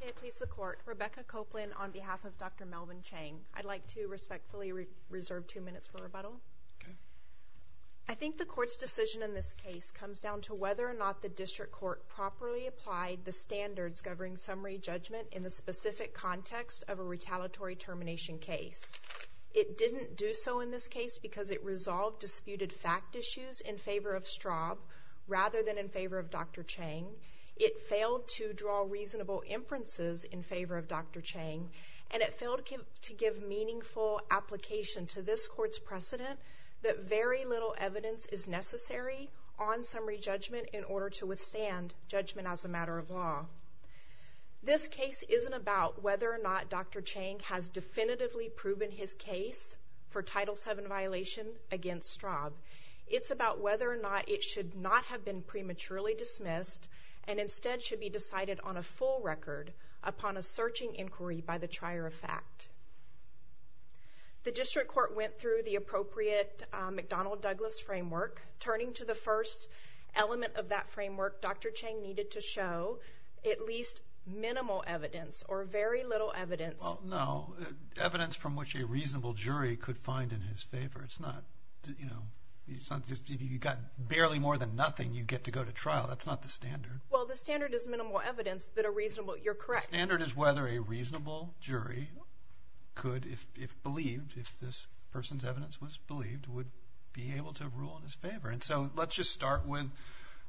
May it please the Court, Rebecca Copeland on behalf of Dr. Melvin Chang. I'd like to respectfully reserve two minutes for rebuttal. I think the Court's decision in this case comes down to whether or not the District Court properly applied the standards governing summary judgment in the specific context of a retaliatory termination case. It didn't do so in this case because it resolved disputed fact issues in favor of Straub rather than in favor of Dr. Chang. It failed to draw reasonable inferences in favor of Dr. Chang. And it failed to give meaningful application to this Court's precedent that very little evidence is necessary on summary judgment in order to withstand judgment as a matter of law. This case isn't about whether or not Dr. Chang has definitively proven his case for Title VII violation against Straub. It's about whether or not it should not have been prematurely dismissed and instead should be decided on a full record upon a searching inquiry by the trier of fact. The District Court went through the appropriate McDonnell-Douglas framework, turning to the first element of that framework. Dr. Chang needed to show at least minimal evidence or very little evidence. Well, no, evidence from which a reasonable jury could find in his favor. It's not, you know, you've got barely more than nothing you get to go to trial. That's not the standard. Well, the standard is minimal evidence that are reasonable. You're correct. The standard is whether a reasonable jury could, if believed, if this person's evidence was believed, would be able to rule in his favor. And so let's just start with,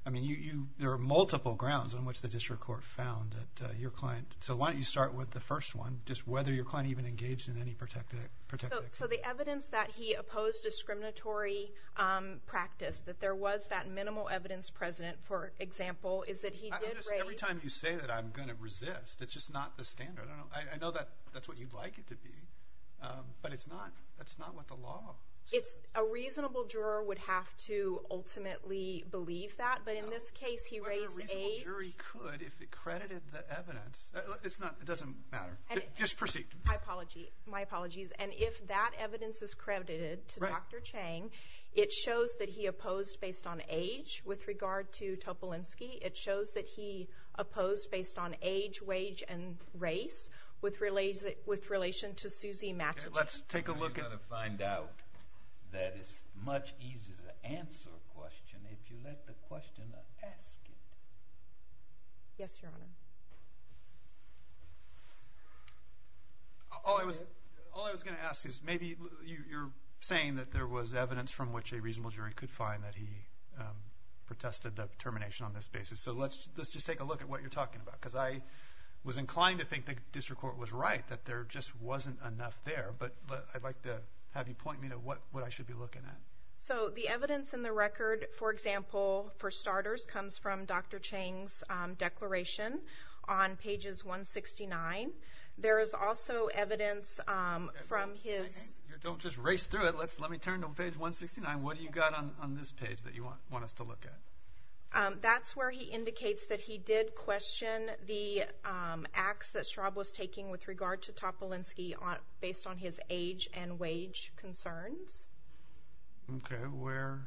I mean, there are multiple grounds on which the District Court found that your client. So why don't you start with the first one, just whether your client even engaged in any protected activity. So the evidence that he opposed discriminatory practice, that there was that minimal evidence present, for example, is that he did raise... Every time you say that I'm going to resist, it's just not the standard. I know that's what you'd like it to be, but that's not what the law says. A reasonable juror would have to ultimately believe that, but in this case he raised a... It's not... It doesn't matter. Just proceed. My apologies. And if that evidence is credited to Dr. Chang, it shows that he opposed based on age with regard to Topolinsky. It shows that he opposed based on age, wage, and race with relation to Suzy Matuchak. Let's take a look at... I'm going to find out that it's much easier to answer a question if you let the questioner ask it. Yes, Your Honor. All I was going to ask is maybe you're saying that there was evidence from which a reasonable jury could find that he protested the termination on this basis. So let's just take a look at what you're talking about because I was inclined to think the district court was right, that there just wasn't enough there, but I'd like to have you point me to what I should be looking at. So the evidence in the record, for example, for starters, comes from Dr. Chang's declaration on pages 169. There is also evidence from his... Don't just race through it. Let me turn to page 169. What do you got on this page that you want us to look at? That's where he indicates that he did question the acts that Straub was taking with regard to Topolinsky based on his age and wage concerns. Okay. Where?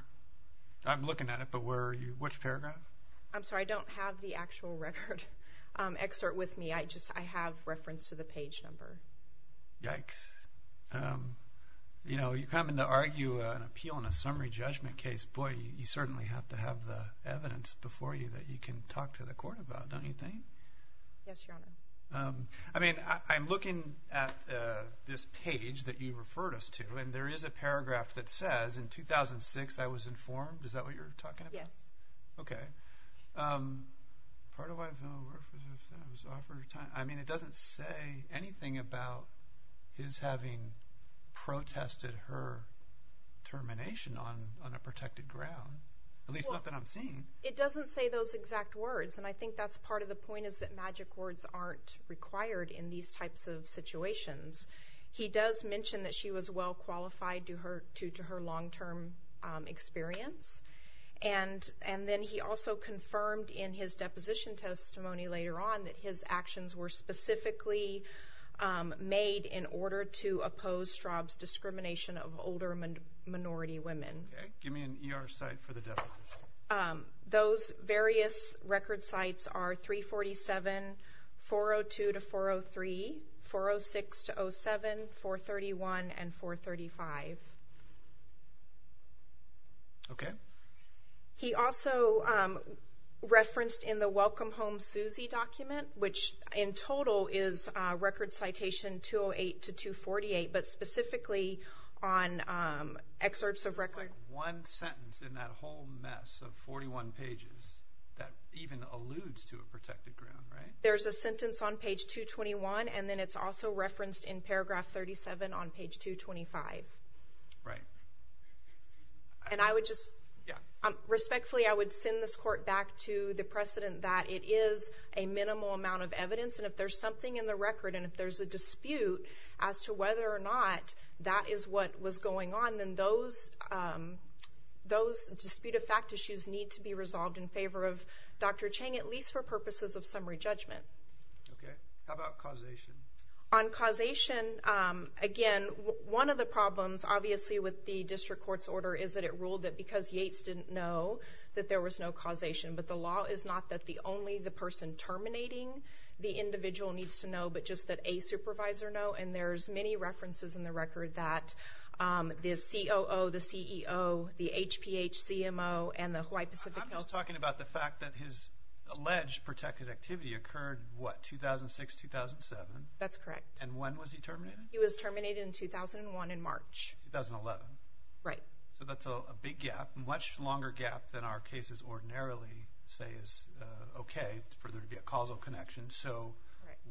I'm looking at it, but where are you? Which paragraph? I'm sorry. I don't have the actual record excerpt with me. I just have reference to the page number. Yikes. You know, you come in to argue an appeal in a summary judgment case, boy, you certainly have to have the evidence before you that you can talk to the court about, don't you think? Yes, Your Honor. I mean, I'm looking at this page that you referred us to, and there is a paragraph that says, In 2006 I was informed... Is that what you're talking about? Yes. Okay. Part of why... I mean, it doesn't say anything about his having protested her termination on a protected ground, at least not that I'm seeing. It doesn't say those exact words, and I think that's part of the point is that magic words aren't required in these types of situations. He does mention that she was well-qualified due to her long-term experience, and then he also confirmed in his deposition testimony later on that his actions were specifically made in order to oppose Straub's discrimination of older minority women. Okay. Give me an ER site for the deposition. Those various record sites are 347, 402-403, 406-07, 431, and 435. Okay. He also referenced in the Welcome Home Susie document, which in total is record citation 208-248, but specifically on excerpts of record... There's not one sentence in that whole mess of 41 pages that even alludes to a protected ground, right? There's a sentence on page 221, and then it's also referenced in paragraph 37 on page 225. Right. And I would just... Respectfully, I would send this court back to the precedent that it is a minimal amount of evidence, and if there's something in the record and if there's a dispute as to whether or not that is what was going on, then those dispute of fact issues need to be resolved in favor of Dr. Chang, at least for purposes of summary judgment. Okay. How about causation? On causation, again, one of the problems, obviously, with the district court's order is that it ruled that because Yates didn't know that there was no causation, but the law is not that only the person terminating the individual needs to know, but just that a supervisor know, and there's many references in the record that the COO, the CEO, the HPHCMO, and the Hawaii Pacific Health... I'm just talking about the fact that his alleged protected activity occurred, what, 2006, 2007? That's correct. And when was he terminated? He was terminated in 2001 in March. 2011. Right. So that's a big gap, a much longer gap than our cases ordinarily say is okay for there to be a causal connection. So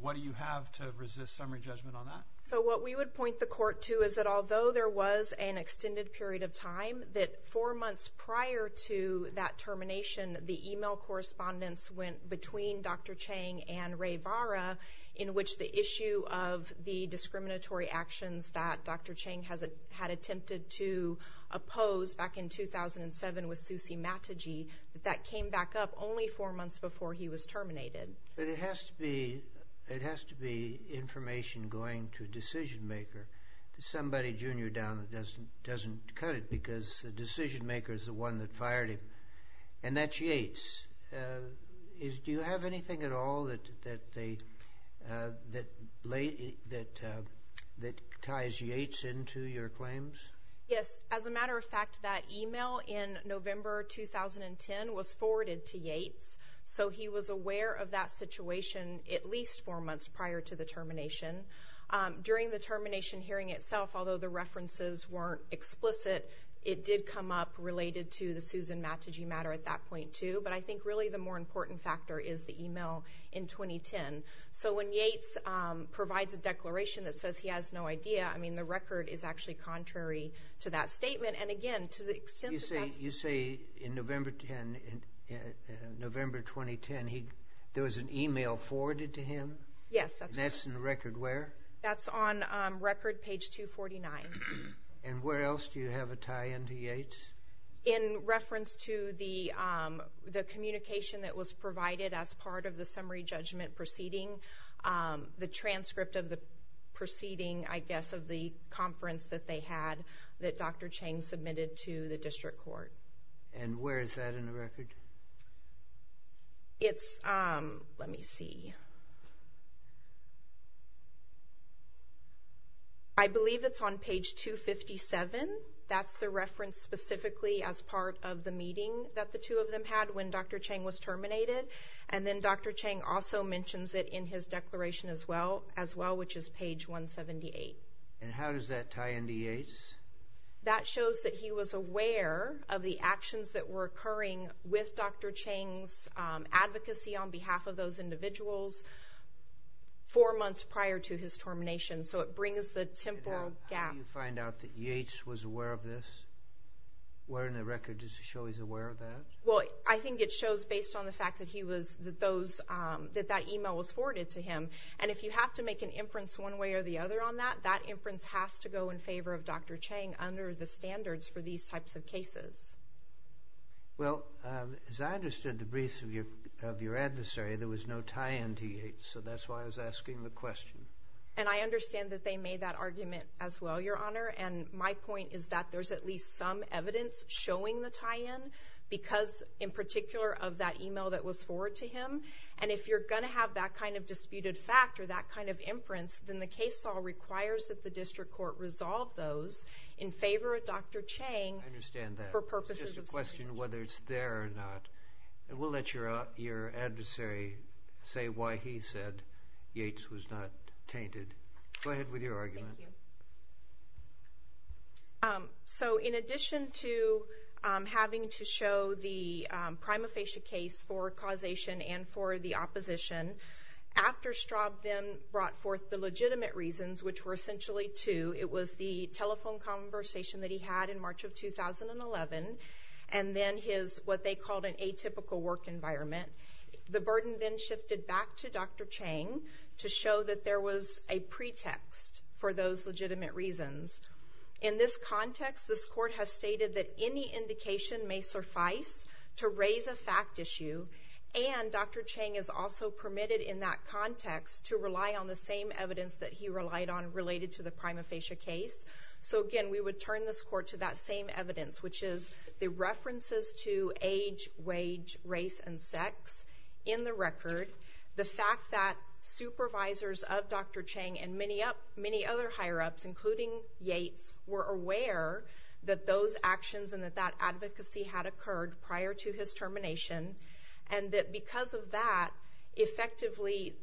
what do you have to resist summary judgment on that? So what we would point the court to is that although there was an extended period of time, that four months prior to that termination, the e-mail correspondence went between Dr. Chang and Ray Vara, in which the issue of the discriminatory actions that Dr. Chang had attempted to oppose back in 2007 with Susie Mataji, that that came back up only four months before he was terminated. But it has to be information going to a decision-maker, to somebody junior down that doesn't cut it because the decision-maker is the one that fired him. And that's Yates. Do you have anything at all that ties Yates into your claims? Yes. As a matter of fact, that e-mail in November 2010 was forwarded to Yates, so he was aware of that situation at least four months prior to the termination. During the termination hearing itself, although the references weren't explicit, it did come up related to the Susan Mataji matter at that point too. But I think really the more important factor is the e-mail in 2010. So when Yates provides a declaration that says he has no idea, I mean the record is actually contrary to that statement. You say in November 2010 there was an e-mail forwarded to him? Yes. And that's in the record where? That's on record page 249. And where else do you have a tie-in to Yates? In reference to the communication that was provided as part of the summary judgment proceeding, the transcript of the proceeding, I guess, of the conference that they had, that Dr. Chang submitted to the district court. And where is that in the record? It's, let me see. I believe it's on page 257. That's the reference specifically as part of the meeting that the two of them had when Dr. Chang was terminated. And then Dr. Chang also mentions it in his declaration as well, which is page 178. And how does that tie into Yates? That shows that he was aware of the actions that were occurring with Dr. Chang's advocacy on behalf of those individuals four months prior to his termination. So it brings the temporal gap. How do you find out that Yates was aware of this? Where in the record does it show he's aware of that? Well, I think it shows based on the fact that he was, that that email was forwarded to him. And if you have to make an inference one way or the other on that, that inference has to go in favor of Dr. Chang under the standards for these types of cases. Well, as I understood the briefs of your adversary, there was no tie-in to Yates. So that's why I was asking the question. And I understand that they made that argument as well, Your Honor. And my point is that there's at least some evidence showing the tie-in because in particular of that email that was forwarded to him. And if you're going to have that kind of disputed fact or that kind of inference, then the case law requires that the district court resolve those in favor of Dr. Chang. I understand that. It's just a question of whether it's there or not. And we'll let your adversary say why he said Yates was not tainted. Go ahead with your argument. Thank you. So in addition to having to show the prima facie case for causation and for the opposition, after Straub then brought forth the legitimate reasons, which were essentially two, it was the telephone conversation that he had in March of 2011 and then his what they called an atypical work environment. The burden then shifted back to Dr. Chang to show that there was a pretext for those legitimate reasons. In this context, this court has stated that any indication may suffice to raise a fact issue. And Dr. Chang is also permitted in that context to rely on the same evidence that he relied on related to the prima facie case. So, again, we would turn this court to that same evidence, which is the references to age, wage, race, and sex in the record, the fact that supervisors of Dr. Chang and many other higher-ups, including Yates, were aware that those actions and that that advocacy had occurred prior to his termination, and that because of that, effectively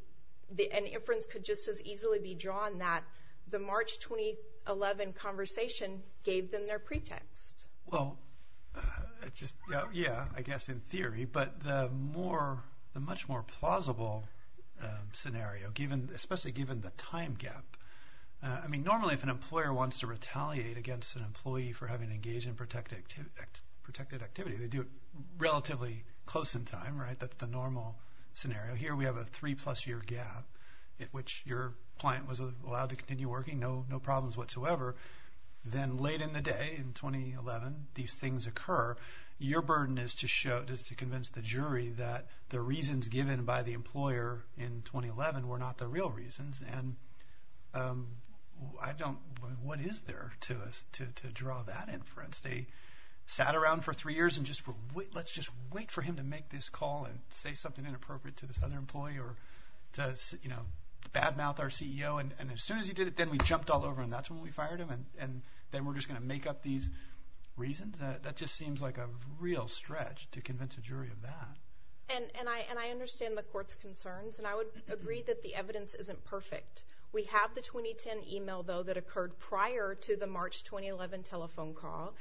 an inference could just as easily be drawn that the March 2011 conversation gave them their pretext. Well, yeah, I guess in theory, but the much more plausible scenario, especially given the time gap, I mean, normally if an employer wants to retaliate against an employee for having engaged in protected activity, they do it relatively close in time, right? That's the normal scenario. Here we have a three-plus-year gap at which your client was allowed to continue working, no problems whatsoever. Then late in the day, in 2011, these things occur. Your burden is to convince the jury that the reasons given by the employer in 2011 were not the real reasons, and I don't know what is there to us to draw that inference. They sat around for three years and just were, let's just wait for him to make this call and say something inappropriate to this other employee or to, you know, badmouth our CEO, and as soon as he did it, then we jumped all over him. That's when we fired him, and then we're just going to make up these reasons? That just seems like a real stretch to convince a jury of that. And I understand the court's concerns, and I would agree that the evidence isn't perfect. We have the 2010 email, though, that occurred prior to the March 2011 telephone call,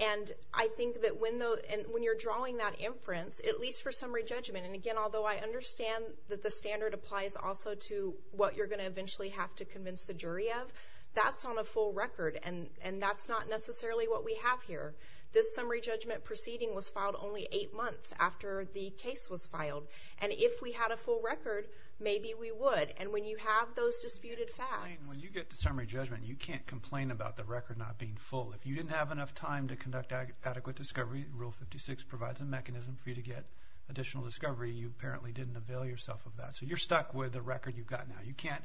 and I think that when you're drawing that inference, at least for summary judgment, and again, although I understand that the standard applies also to what you're going to eventually have to convince the jury of, that's on a full record, and that's not necessarily what we have here. This summary judgment proceeding was filed only eight months after the case was filed, and if we had a full record, maybe we would, and when you have those disputed facts. When you get to summary judgment, you can't complain about the record not being full. If you didn't have enough time to conduct adequate discovery, Rule 56 provides a mechanism for you to get additional discovery. You apparently didn't avail yourself of that, so you're stuck with the record you've got now. You can't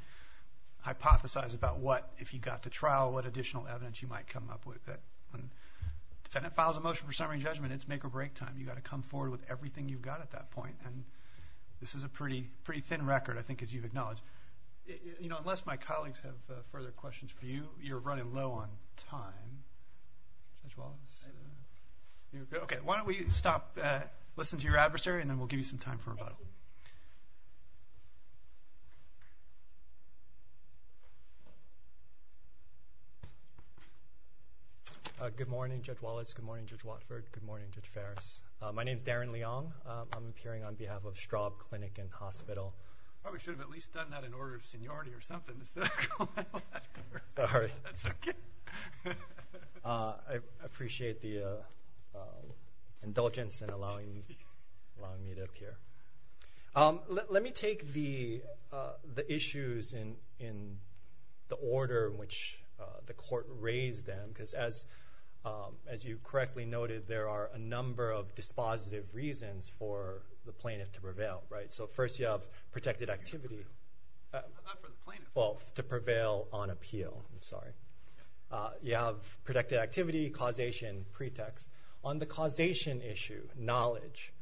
hypothesize about what, if you got to trial, what additional evidence you might come up with. When a defendant files a motion for summary judgment, it's make or break time. You've got to come forward with everything you've got at that point, and this is a pretty thin record, I think, as you've acknowledged. Unless my colleagues have further questions for you, you're running low on time. Judge Wallace. Why don't we stop, listen to your adversary, and then we'll give you some time for rebuttal. Good morning, Judge Wallace. Good morning, Judge Watford. Good morning, Judge Farris. My name is Darren Leong. I'm appearing on behalf of Straub Clinic and Hospital. I probably should have at least done that in order of seniority or something instead of going out that door. Sorry. That's okay. I appreciate the indulgence in allowing me to appear. Let me take the issues in the order in which the court raised them, because as you correctly noted, there are a number of dispositive reasons for the plaintiff to prevail, right? So first you have protected activity. Not for the plaintiff. Well, to prevail on appeal. I'm sorry. You have protected activity, causation, pretext. On the causation issue, knowledge,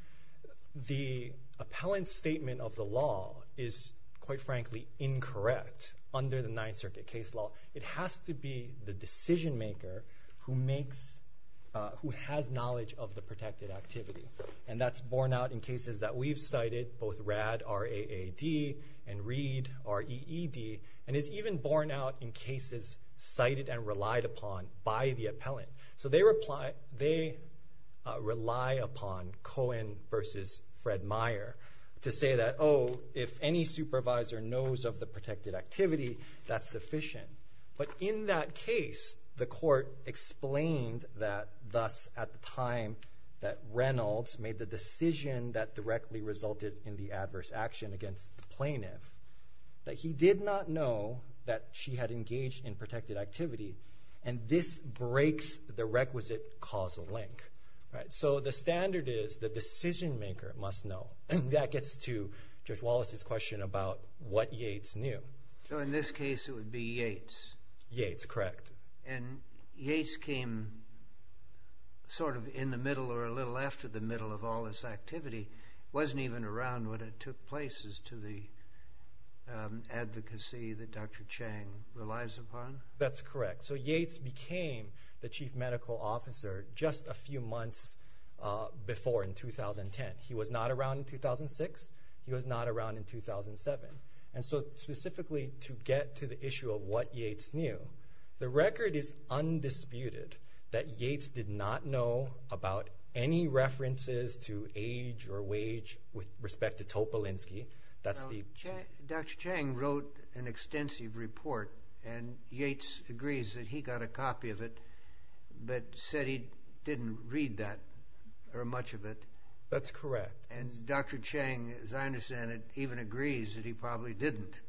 the appellant's statement of the law is, quite frankly, incorrect under the Ninth Circuit case law. It has to be the decision maker who has knowledge of the protected activity, and that's borne out in cases that we've cited, both Rad, R-A-A-D, and Reed, R-E-E-D, and it's even borne out in cases cited and relied upon by the appellant. So they rely upon Cohen versus Fred Meyer to say that, oh, if any supervisor knows of the protected activity, that's sufficient. But in that case, the court explained that thus at the time that Reynolds made the decision that directly resulted in the adverse action against the plaintiff, that he did not know that she had engaged in protected activity, and this breaks the requisite causal link. So the standard is the decision maker must know. That gets to Judge Wallace's question about what Yates knew. So in this case, it would be Yates? Yates, correct. And Yates came sort of in the middle or a little after the middle of all this activity, wasn't even around when it took place as to the advocacy that Dr. Chang relies upon? That's correct. So Yates became the chief medical officer just a few months before in 2010. He was not around in 2006. He was not around in 2007. And so specifically to get to the issue of what Yates knew, the record is undisputed that Yates did not know about any references to age or wage with respect to Topolinsky. Dr. Chang wrote an extensive report, and Yates agrees that he got a copy of it but said he didn't read that or much of it. That's correct. And Dr. Chang, as I understand it, even agrees that he probably didn't.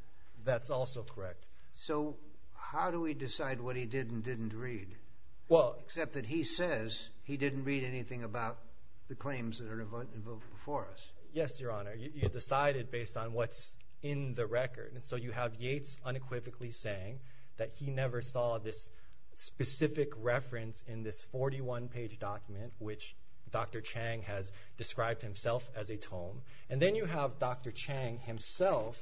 That's also correct. So how do we decide what he did and didn't read, except that he says he didn't read anything about the claims that are invoked before us? Yes, Your Honor. You decide it based on what's in the record. And so you have Yates unequivocally saying that he never saw this specific reference in this 41-page document, which Dr. Chang has described himself as a tome. And then you have Dr. Chang himself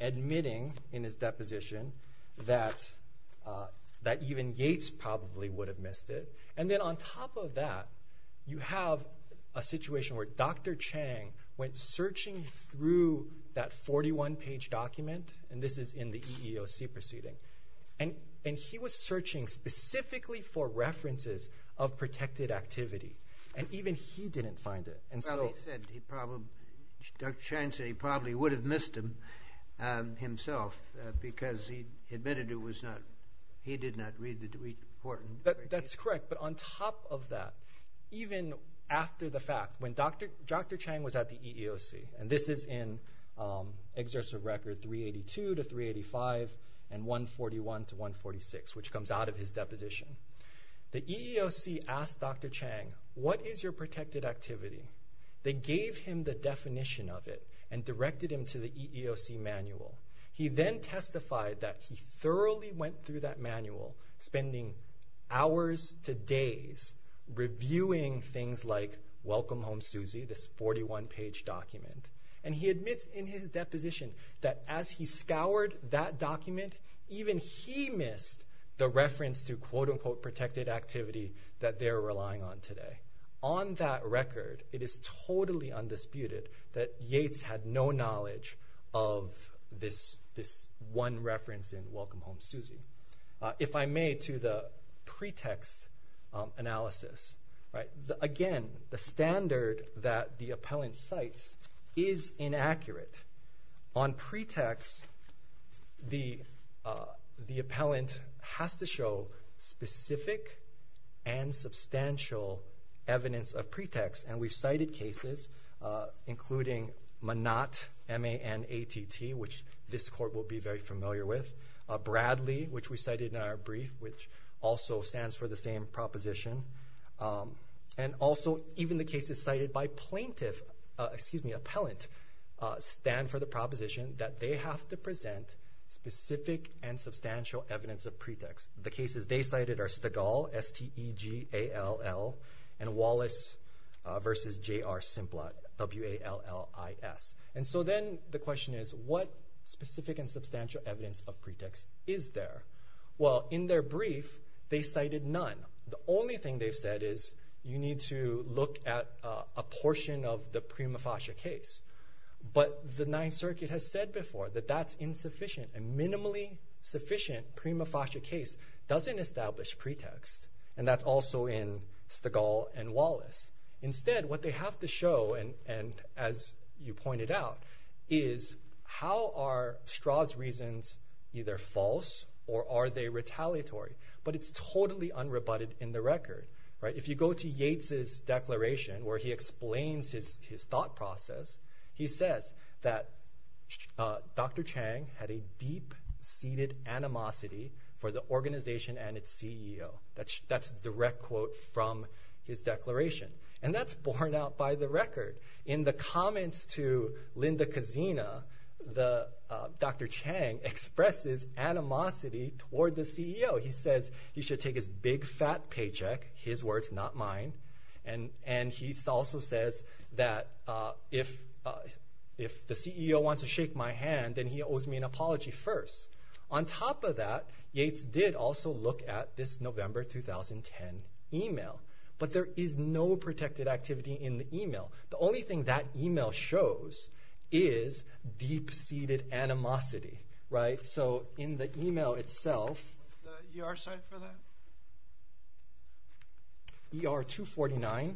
admitting in his deposition that even Yates probably would have missed it. And then on top of that, you have a situation where Dr. Chang went searching through that 41-page document, and this is in the EEOC proceeding. And he was searching specifically for references of protected activity, and even he didn't find it. Well, he said he probably would have missed them himself because he admitted he did not read the report. That's correct. But on top of that, even after the fact, when Dr. Chang was at the EEOC, and this is in Exercise Record 382 to 385 and 141 to 146, which comes out of his deposition, the EEOC asked Dr. Chang, what is your protected activity? They gave him the definition of it and directed him to the EEOC manual. He then testified that he thoroughly went through that manual, spending hours to days reviewing things like Welcome Home Susie, this 41-page document. And he admits in his deposition that as he scoured that document, even he missed the reference to quote-unquote protected activity that they're relying on today. On that record, it is totally undisputed that Yates had no knowledge of this one reference in Welcome Home Susie. If I may, to the pretext analysis, again, the standard that the appellant cites is inaccurate. On pretext, the appellant has to show specific and substantial evidence of pretext, and we've cited cases including Manat, M-A-N-A-T-T, which this court will be very familiar with, Bradley, which we cited in our brief, which also stands for the same proposition, and also even the cases cited by plaintiff, excuse me, appellant, stand for the proposition that they have to present specific and substantial evidence of pretext. The cases they cited are Stegall, S-T-E-G-A-L-L, and Wallace v. J.R. Simplot, W-A-L-L-I-S. And so then the question is, what specific and substantial evidence of pretext is there? Well, in their brief, they cited none. The only thing they've said is you need to look at a portion of the prima facie case. But the Ninth Circuit has said before that that's insufficient. A minimally sufficient prima facie case doesn't establish pretext, and that's also in Stegall and Wallace. Instead, what they have to show, and as you pointed out, is how are Straub's reasons either false or are they retaliatory? But it's totally unrebutted in the record. If you go to Yates's declaration where he explains his thought process, he says that Dr. Chang had a deep-seated animosity for the organization and its CEO. That's a direct quote from his declaration. And that's borne out by the record. In the comments to Linda Kazina, Dr. Chang expresses animosity toward the CEO. He says he should take his big, fat paycheck, his words, not mine. And he also says that if the CEO wants to shake my hand, then he owes me an apology first. On top of that, Yates did also look at this November 2010 email. But there is no protected activity in the email. The only thing that email shows is deep-seated animosity. In the email itself, ER249,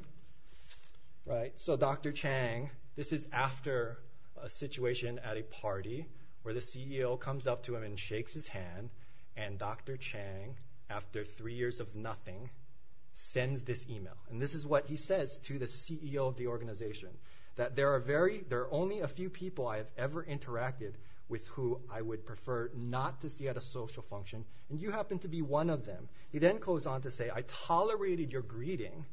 Dr. Chang, this is after a situation at a party where the CEO comes up to him and shakes his hand. And Dr. Chang, after three years of nothing, sends this email. And this is what he says to the CEO of the organization. That there are only a few people I have ever interacted with who I would prefer not to see at a social function. And you happen to be one of them. He then goes on to say, I tolerated your greeting.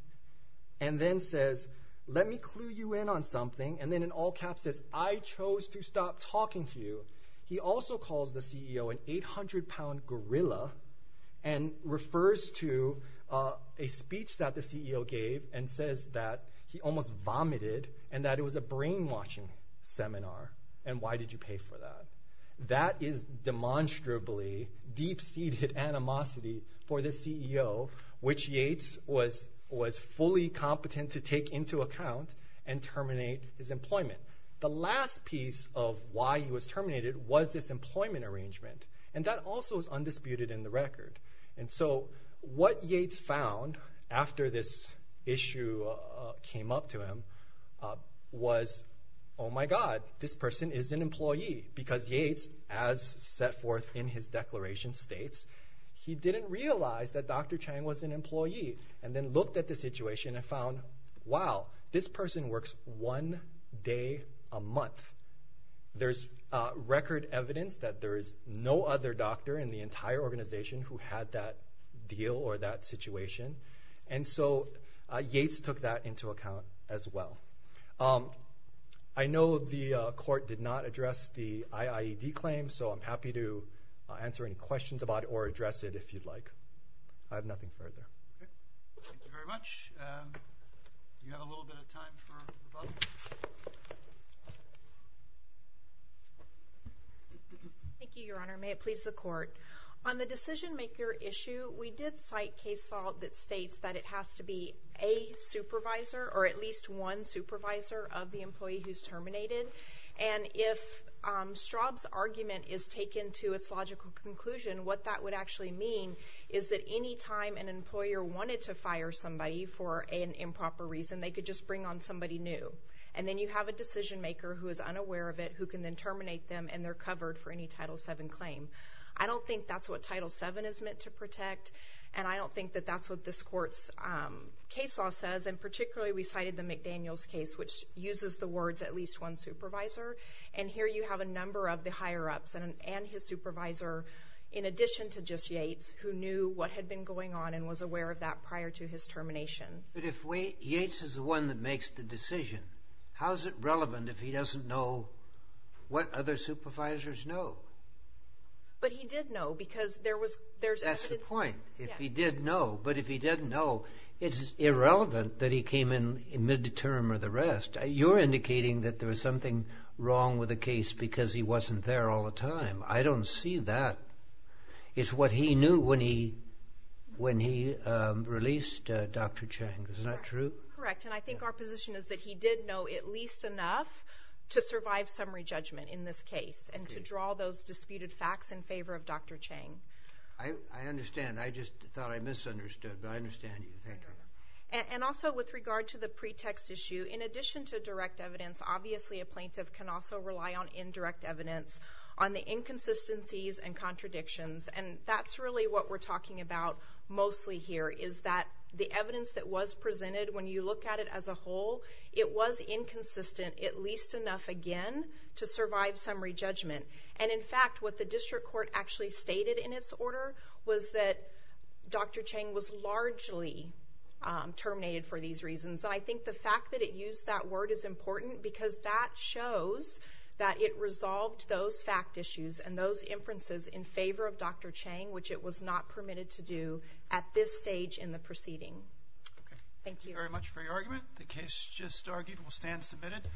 And then says, let me clue you in on something. And then in all caps says, I chose to stop talking to you. He also calls the CEO an 800-pound gorilla. And refers to a speech that the CEO gave and says that he almost vomited. And that it was a brainwashing seminar. And why did you pay for that? That is demonstrably deep-seated animosity for the CEO. Which Yates was fully competent to take into account and terminate his employment. The last piece of why he was terminated was this employment arrangement. And that also is undisputed in the record. And so what Yates found after this issue came up to him was, oh, my God, this person is an employee. Because Yates, as set forth in his declaration, states he didn't realize that Dr. Chang was an employee. And then looked at the situation and found, wow, this person works one day a month. There's record evidence that there is no other doctor in the entire organization who had that deal or that situation. And so Yates took that into account as well. I know the court did not address the IIED claim. So I'm happy to answer any questions about it or address it if you'd like. I have nothing further. Thank you very much. Do you have a little bit of time for questions? Thank you, Your Honor. May it please the court. On the decision-maker issue, we did cite case law that states that it has to be a supervisor or at least one supervisor of the employee who's terminated. And if Straub's argument is taken to its logical conclusion, what that would actually mean is that any time an employer wanted to fire somebody for an improper reason, they could just bring on somebody new. And then you have a decision-maker who is unaware of it who can then terminate them, and they're covered for any Title VII claim. I don't think that's what Title VII is meant to protect. And I don't think that that's what this court's case law says. And particularly, we cited the McDaniels case, which uses the words at least one supervisor. And here you have a number of the higher-ups and his supervisor, in addition to just Yates, who knew what had been going on and was aware of that prior to his termination. But if Yates is the one that makes the decision, how is it relevant if he doesn't know what other supervisors know? But he did know because there was evidence. That's the point. If he did know. But if he didn't know, it's irrelevant that he came in mid-term or the rest. You're indicating that there was something wrong with the case because he wasn't there all the time. I don't see that. It's what he knew when he released Dr. Chang. Isn't that true? Correct. And I think our position is that he did know at least enough to survive summary judgment in this case and to draw those disputed facts in favor of Dr. Chang. I understand. I just thought I misunderstood, but I understand you. Thank you. And also, with regard to the pretext issue, in addition to direct evidence, obviously a plaintiff can also rely on indirect evidence on the inconsistencies and contradictions. And that's really what we're talking about mostly here is that the evidence that was presented, when you look at it as a whole, it was inconsistent at least enough, again, to survive summary judgment. And, in fact, what the district court actually stated in its order was that Dr. Chang was largely terminated for these reasons. And I think the fact that it used that word is important because that shows that it resolved those fact issues and those inferences in favor of Dr. Chang, which it was not permitted to do at this stage in the proceeding. Okay. Thank you. Thank you very much for your argument. The case just argued will stand submitted.